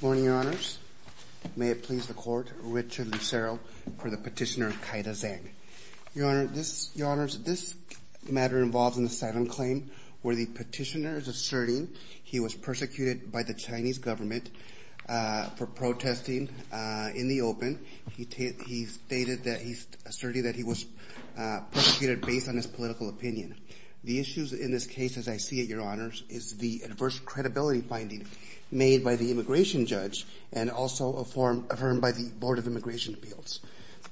Morning, Your Honors. May it please the Court, Richard Lucero for the petitioner Kaida Zhang. Your Honor, this matter involves an asylum claim where the petitioner is asserting he was persecuted by the Chinese government for protesting in the open. He asserted that he was persecuted based on his political opinion. The issues in this case, as I see it, Your Honor, are based on the adverse credibility finding made by the immigration judge and also affirmed by the Board of Immigration Appeals.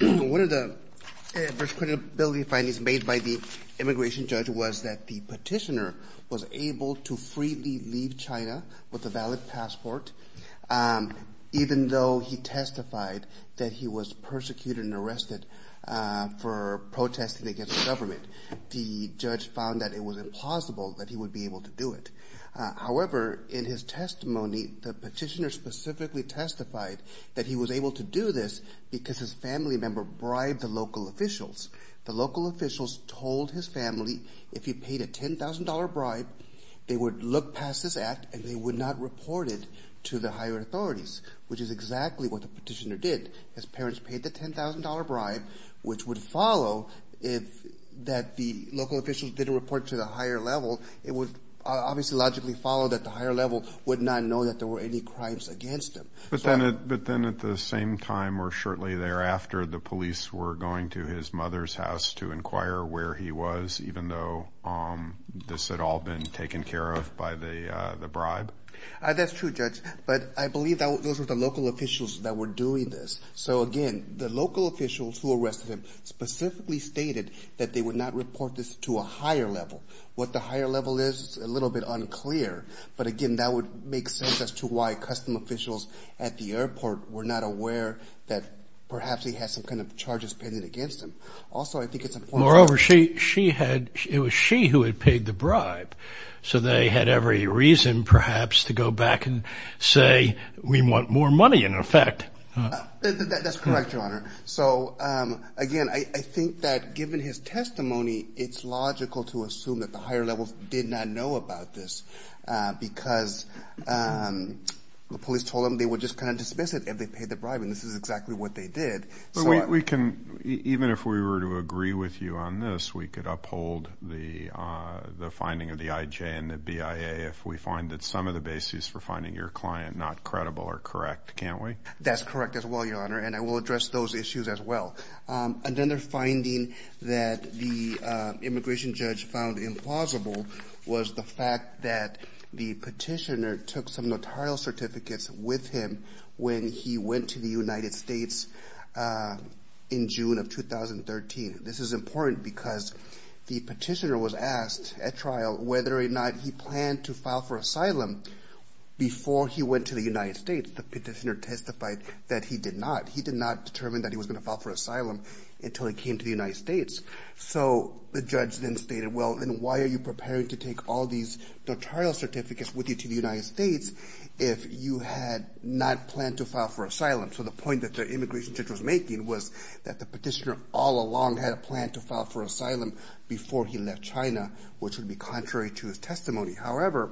One of the adverse credibility findings made by the immigration judge was that the petitioner was able to freely leave China with a valid passport even though he testified that he was persecuted and arrested for protesting against the government. The judge found that it was implausible that he would be able to do it. However, in his testimony, the petitioner specifically testified that he was able to do this because his family member bribed the local officials. The local officials told his family if he paid a $10,000 bribe, they would look past this act and they would not report it to the higher authorities, which is exactly what the petitioner did. His parents paid the $10,000 bribe, which would follow that the local officials didn't report to the higher level. It would obviously logically follow that the higher level would not know that there were any crimes against him. But then at the same time or shortly thereafter, the police were going to his mother's house to inquire where he was, even though this had all been taken care of by the bribe? That's true, Judge, but I believe that those were the local officials that were doing this. So again, the local officials who arrested him specifically stated that they would not report this to a higher level. What the higher level is a little bit unclear, but again, that would make sense as to why custom officials at the airport were not aware that perhaps he had some kind of charges pitted against him. Also, I think it's important... Moreover, she had, it was she who had paid the bribe, so they had every reason perhaps to go back and say, we want more money in effect. That's correct, Your Honor. So again, I think that given his testimony, it's logical to assume that the higher levels did not know about this because the police told them they would just kind of dismiss it if they paid the bribe, and this is exactly what they did. We can, even if we were to agree with you on this, we could uphold the finding of the IJ and the BIA if we find that some of the basis for finding your client not credible or correct, can't we? That's correct as well, Your Honor, and I will address those issues as well. Another finding that the immigration judge found implausible was the fact that the petitioner took some in June of 2013. This is important because the petitioner was asked at trial whether or not he planned to file for asylum before he went to the United States. The petitioner testified that he did not. He did not determine that he was going to file for asylum until he came to the United States. So the judge then stated, well, then why are you preparing to take all these notarial certificates with you to the United States if you had not planned to file for asylum? So the point that the immigration judge was making was that the petitioner all along had a plan to file for asylum before he left China, which would be contrary to his testimony. However,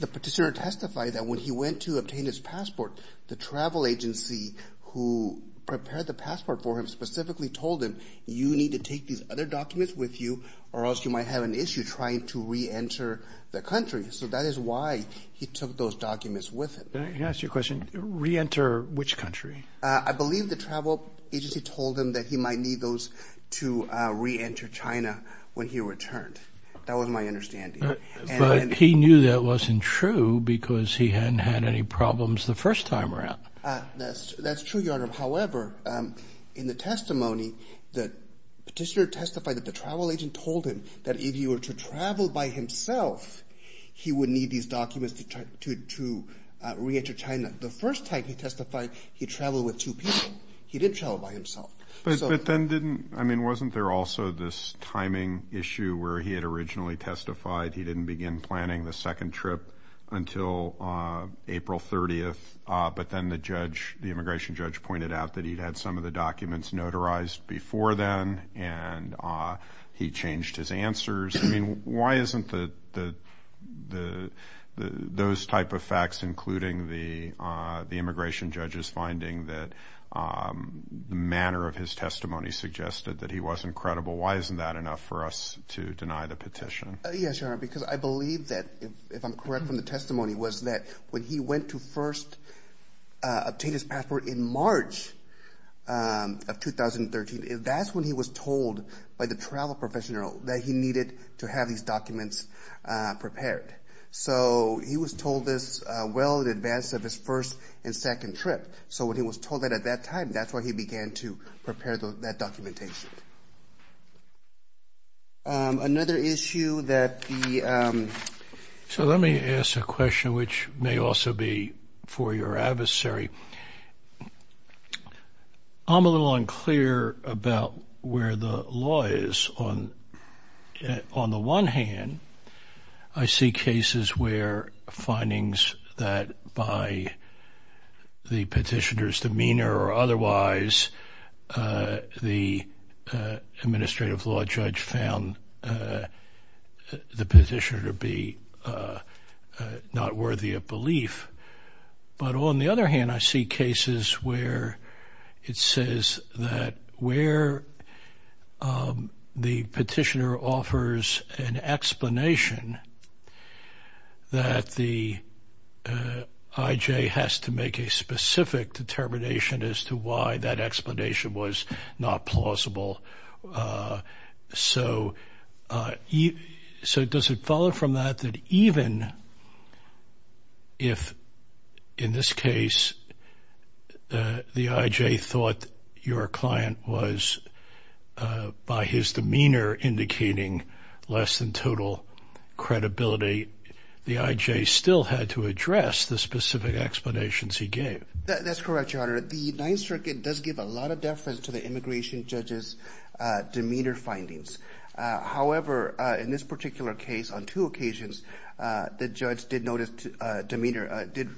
the petitioner testified that when he went to obtain his passport, the travel agency who prepared the passport for him specifically told him, you need to take these other documents with you or else you might have an issue trying to reenter the country. So that is why he took those documents with him. Can I ask you a question? Reenter which country? I believe the travel agency told him that he might need those to reenter China when he returned. That was my understanding. But he knew that wasn't true because he hadn't had any problems the first time around. That's true, Your Honor. However, in the testimony, the petitioner testified that the travel agent told him that if he were to travel by himself, he would need these documents to reenter China. The first time he testified, he traveled with two people. He did travel by himself. But then didn't, I mean, wasn't there also this timing issue where he had originally testified he didn't begin planning the second trip until April 30th, but then the judge, the immigration judge pointed out that he'd had some of the documents notarized before then, and he changed his answers. I mean, why isn't the, the, the, the, those type of facts including the, the immigration judge's finding that the manner of his testimony suggested that he wasn't credible. Why isn't that enough for us to deny the petition? Yes, Your Honor, because I believe that if I'm correct from the testimony was that when he went to first obtain his passport in March of 2013, that's when he was told by the travel professional that he needed to have these documents prepared. So he was told this well in advance of his first and second trip. So when he was told that at that time, that's why he began to prepare that documentation. Another issue that the, so let me ask a question, which may also be for your adversary. I'm a little unclear about where the law is on. On the one hand, I see cases where findings that by the petitioner's demeanor or otherwise, the administrative law judge found the petitioner to be not worthy of belief. But on the other hand, I see cases where it says that where the petitioner offers an explanation that the IJ has to make a specific determination as to why that explanation was not plausible. So does it follow from that that even if in this case the IJ thought your client was by his demeanor indicating less than total credibility, the IJ still had to address the specific explanations he gave? That's correct, Your Honor. The Ninth Circuit does give a lot of deference to the immigration judge's demeanor findings. However, in this particular case, on two occasions, the judge did notice, did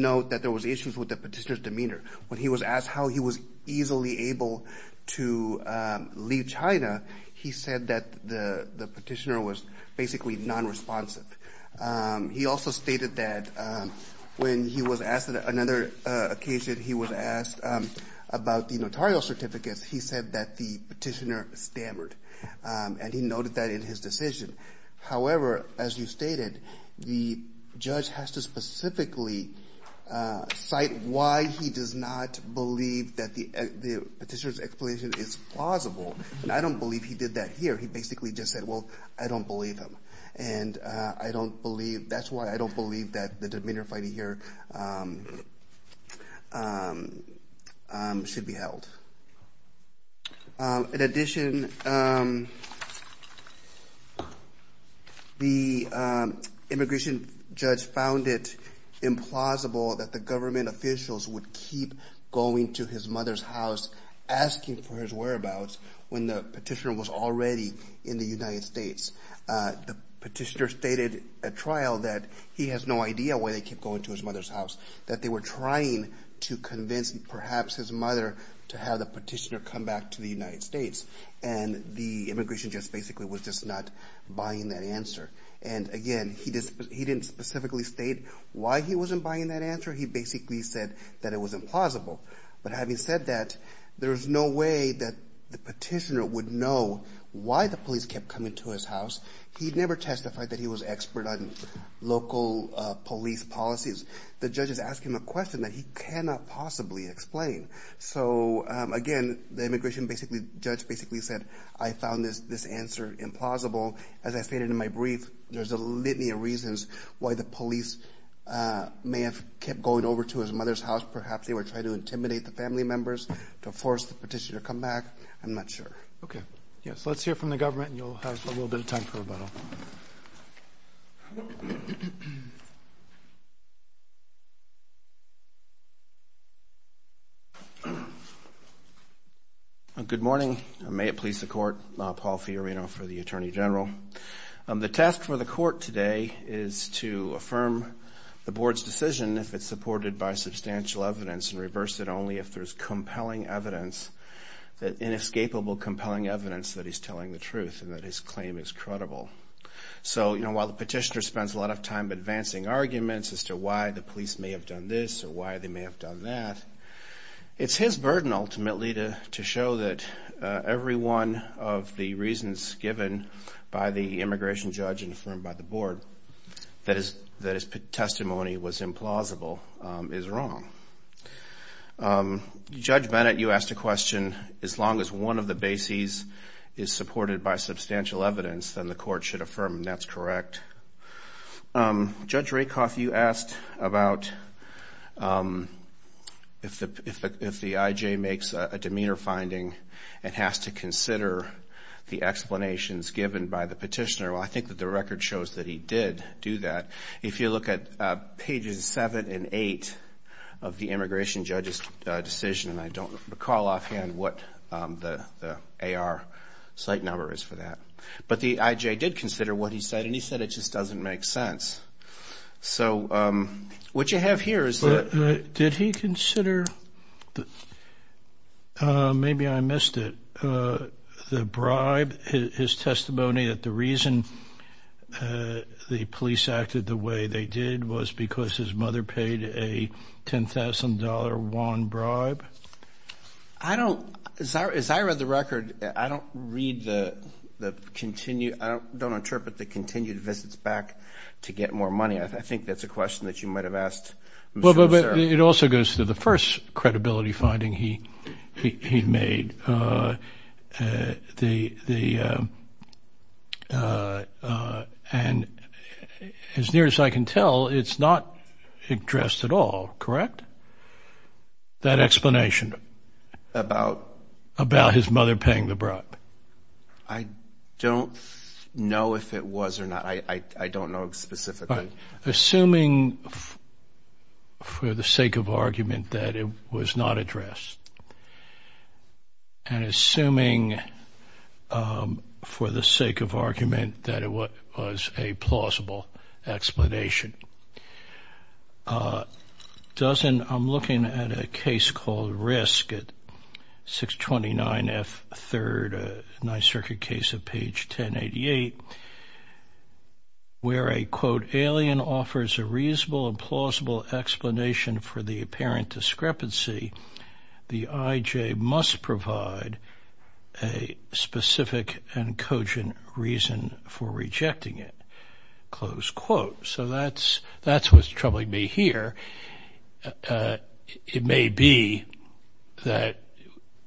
note that there was issues with the petitioner's demeanor. When he was asked to leave China, he said that the petitioner was basically non-responsive. He also stated that when he was asked, another occasion he was asked about the notarial certificates, he said that the petitioner stammered and he noted that in his decision. However, as you stated, the judge has to specifically cite why he does not believe that the petitioner's explanation is plausible. And I don't believe he did that here. He basically just said, well, I don't believe him. And I don't believe, that's why I don't believe that the demeanor finding here should be held. In addition, the immigration judge found it implausible that the government officials would keep going to his mother's house asking for his whereabouts when the petitioner was already in the United States. The petitioner stated at trial that he has no idea why they keep going to his mother's house, that they were trying to convince perhaps his mother to have the petitioner come back to the United States. And the immigration judge basically was just not buying that answer. And again, he didn't specifically state why he wasn't buying that answer. He basically said that it was implausible. But having said that, there's no way that the petitioner would know why the police kept coming to his house. He never testified that he was expert on local police policies. The judge is asking him a question that he cannot possibly explain. So again, the immigration judge basically said, I found this answer implausible. As I stated in my brief, there's a litany of reasons why the police may have kept going over to his mother's house. Perhaps they were trying to intimidate the family members to force the petitioner to come back. I'm not sure. Okay. Yes. Let's hear from the government and you'll have a little bit of time for rebuttal. Good morning. May it please the court, Paul Fiorino for the Attorney General. The task for the court today is to affirm the board's decision if it's supported by substantial evidence and reverse it only if there's compelling evidence, inescapable compelling evidence that he's telling the truth and that his claim is credible. So, you know, while the petitioner spends a lot of time advancing arguments as to why the police may have done this or why they may have done that, it's his burden ultimately to show that every one of the reasons given by the immigration judge and affirmed by the board that his testimony was implausible is wrong. Judge Bennett, you asked a question. As long as one of the bases is supported by substantial evidence, then the court should affirm that's correct. Judge Rakoff, you asked about if the IJ makes a demeanor finding and has to consider the explanations given by the petitioner. Well, I think that the record shows that he did do that. If you look at pages 7 and 8 of the immigration judge's decision, I don't recall offhand what the AR site number is for that. But the IJ did consider what he said and he said it just doesn't make sense. So what you have here is that... Maybe I missed it. The bribe, his testimony that the reason the police acted the way they did was because his mother paid a $10,000 one bribe? As I read the record, I don't read the continued... I don't interpret the continued visits back to get more money. I think that's a question that you might have asked. But it also goes to the first credibility finding he made. And as near as I can tell, it's not addressed at all, correct? That explanation about his mother paying the bribe. I don't know if it was or not. I don't know specifically. Assuming for the sake of argument that it was not addressed and assuming for the sake of argument that it was a plausible explanation, doesn't... reasonable and plausible explanation for the apparent discrepancy, the IJ must provide a specific and cogent reason for rejecting it. So that's what's troubling me here. It may be that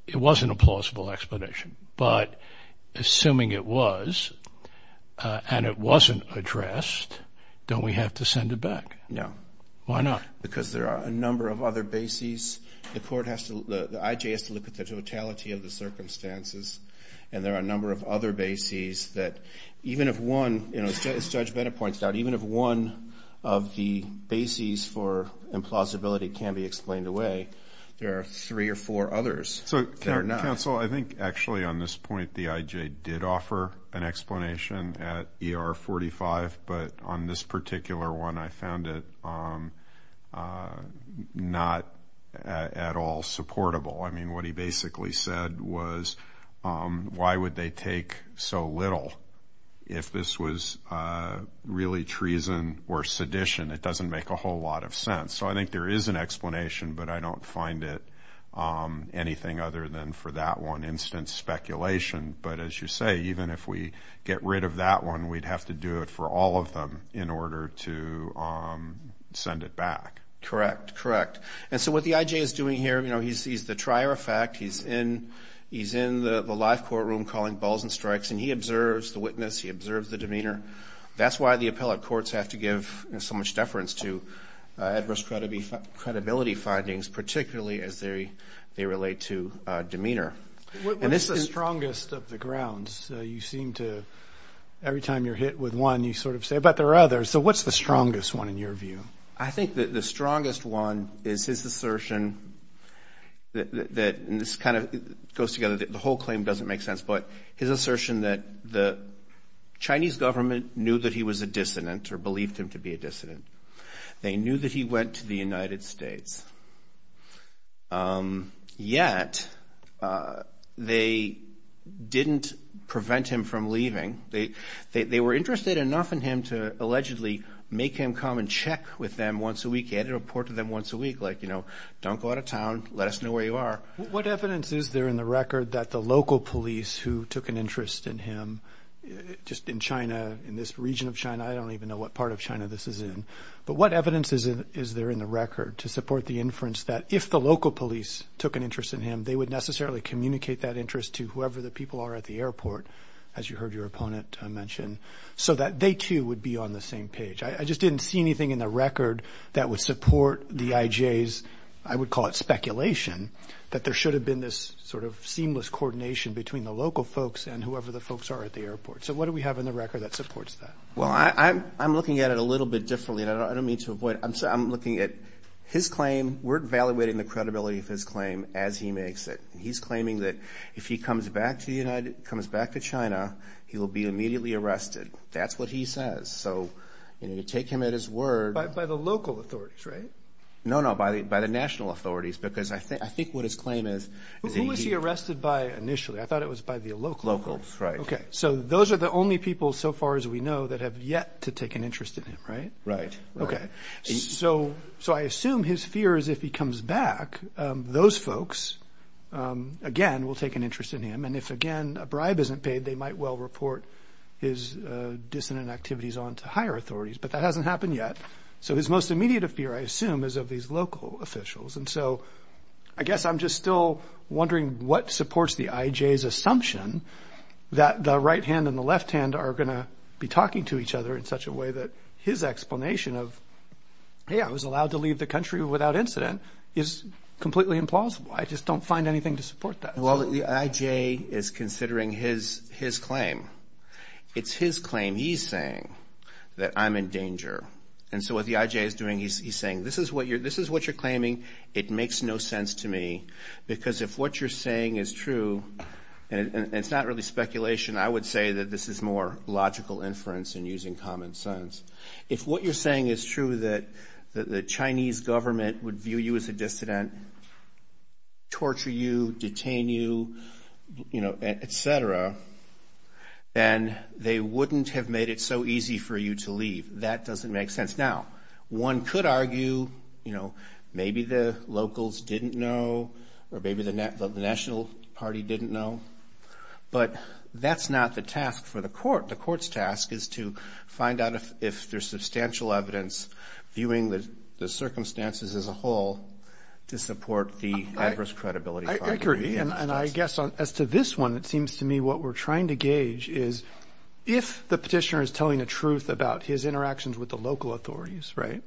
it wasn't a plausible explanation, but assuming it was and it wasn't addressed, don't we have to send it back? No. Why not? Because there are a number of other bases. The court has to... The IJ has to look at the totality of the circumstances. And there are a number of other bases that even if one... As Judge Bennett points out, even if one of the bases for implausibility can be explained away, there are three or four others that are not. Counsel, I think actually on this point the IJ did offer an explanation at ER 45, but on this particular one I found it not at all supportable. I mean, what he basically said was, why would they take so little? If this was really treason or sedition, it doesn't make a whole lot of sense. So I think there is an explanation, but I don't find it anything other than for that one instance speculation. But as you say, even if we get rid of that one, we'd have to do it for all of them in order to send it back. Correct. Correct. And so what the IJ is doing here, he's the trier of fact. He's in the live courtroom calling balls and strikes. And he observes the witness. He observes the demeanor. That's why the appellate courts have to give so much deference to adverse credibility findings, particularly as they relate to demeanor. What's the strongest of the grounds? You seem to, every time you're hit with one, you sort of say, but there are others. So what's the strongest one in your view? I think that the strongest one is his assertion that, and this kind of goes together, the whole claim doesn't make sense, but his assertion that the Chinese government knew that he was a dissident or believed him to be a dissident. They knew that he went to the United States, yet they didn't prevent him from leaving. They were interested enough in him to allegedly make him come and check with them once a week. He had to report to them once a week, like, you know, don't go out of town. Let us know where you are. What evidence is there in the record that the local police who took an interest in him, just in China, in this region of China, I don't even know what part of China this is in. But what evidence is there in the record to support the inference that if the local police took an interest in him, they would necessarily communicate that interest to whoever the people are at the airport, as you heard your opponent mention, so that they, too, would be on the same page? I just didn't see anything in the record that would support the IJ's, I would call it speculation, that there should have been this sort of seamless coordination between the local folks and whoever the folks are at the airport. So what do we have in the record that supports that? Well, I'm looking at it a little bit differently, and I don't mean to avoid it. I'm looking at his claim. We're evaluating the credibility of his claim as he makes it. He's claiming that if he comes back to China, he will be immediately arrested. That's what he says. So, you know, you take him at his word. By the local authorities, right? No, no, by the national authorities, because I think what his claim is. Who was he arrested by initially? I thought it was by the locals. Locals, right. Okay, so those are the only people, so far as we know, that have yet to take an interest in him, right? Right. Okay, so I assume his fear is if he comes back, those folks, again, will take an interest in him. And if, again, a bribe isn't paid, they might well report his dissonant activities on to higher authorities. But that hasn't happened yet. So his most immediate fear, I assume, is of these local officials. And so I guess I'm just still wondering what supports the IJ's assumption that the right hand and the left hand are going to be talking to each other in such a way that his explanation of, hey, I was allowed to leave the country without incident, is completely implausible. I just don't find anything to support that. Well, the IJ is considering his claim. It's his claim he's saying that I'm in danger. And so what the IJ is doing, he's saying this is what you're claiming, it makes no sense to me, because if what you're saying is true, and it's not really speculation, I would say that this is more logical inference and using common sense. If what you're saying is true, that the Chinese government would view you as a dissident, torture you, detain you, you know, et cetera, then they wouldn't have made it so easy for you to leave. That doesn't make sense. Now, one could argue, you know, maybe the locals didn't know or maybe the national party didn't know. But that's not the task for the court. The court's task is to find out if there's substantial evidence viewing the circumstances as a whole to support the adverse credibility. I agree. And I guess as to this one, it seems to me what we're trying to gauge is if the petitioner is telling the truth about his interactions with the local authorities, right,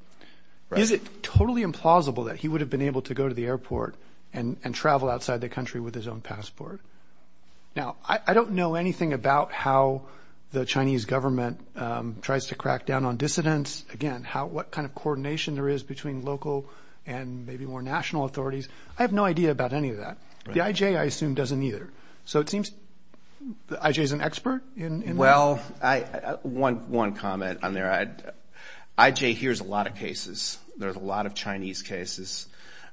is it totally implausible that he would have been able to go to the airport and travel outside the country with his own passport? Now, I don't know anything about how the Chinese government tries to crack down on dissidents. Again, what kind of coordination there is between local and maybe more national authorities. I have no idea about any of that. The IJ, I assume, doesn't either. So it seems the IJ is an expert in that. Well, one comment on there. IJ hears a lot of cases. There's a lot of Chinese cases.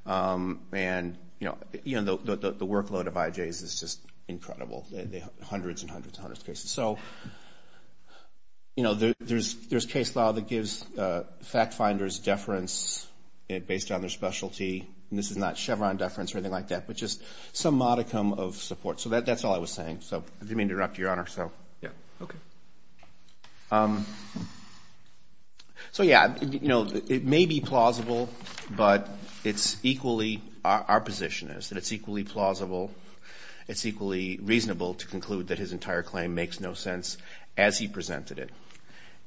And, you know, the workload of IJs is just incredible, hundreds and hundreds and hundreds of cases. So, you know, there's case law that gives fact finders deference based on their specialty. And this is not Chevron deference or anything like that, but just some modicum of support. So that's all I was saying. So I didn't mean to interrupt, Your Honor. Yeah, okay. So, yeah, you know, it may be plausible, but it's equally, our position is that it's equally plausible, it's equally reasonable to conclude that his entire claim makes no sense as he presented it.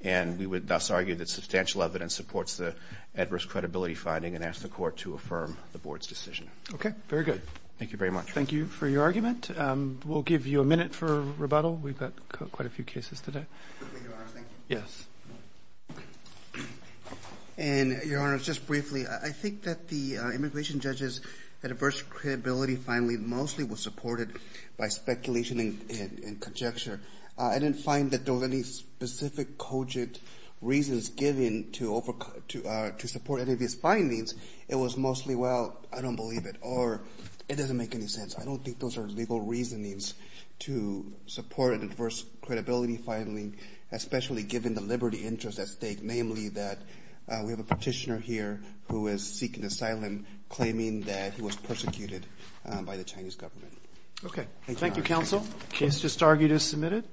And we would thus argue that substantial evidence supports the adverse credibility finding and ask the Court to affirm the Board's decision. Okay, very good. Thank you very much. Thank you for your argument. We'll give you a minute for rebuttal. We've got quite a few cases today. Quickly, Your Honor, thank you. Yes. And, Your Honor, just briefly, I think that the immigration judge's adverse credibility finding mostly was supported by speculation and conjecture. I didn't find that there were any specific coded reasons given to support any of these findings. It was mostly, well, I don't believe it, or it doesn't make any sense. I don't think those are legal reasonings to support an adverse credibility finding, especially given the liberty interest at stake, namely that we have a petitioner here who is seeking asylum claiming that he was persecuted by the Chinese government. Okay. Thank you, counsel. The case just argued is submitted.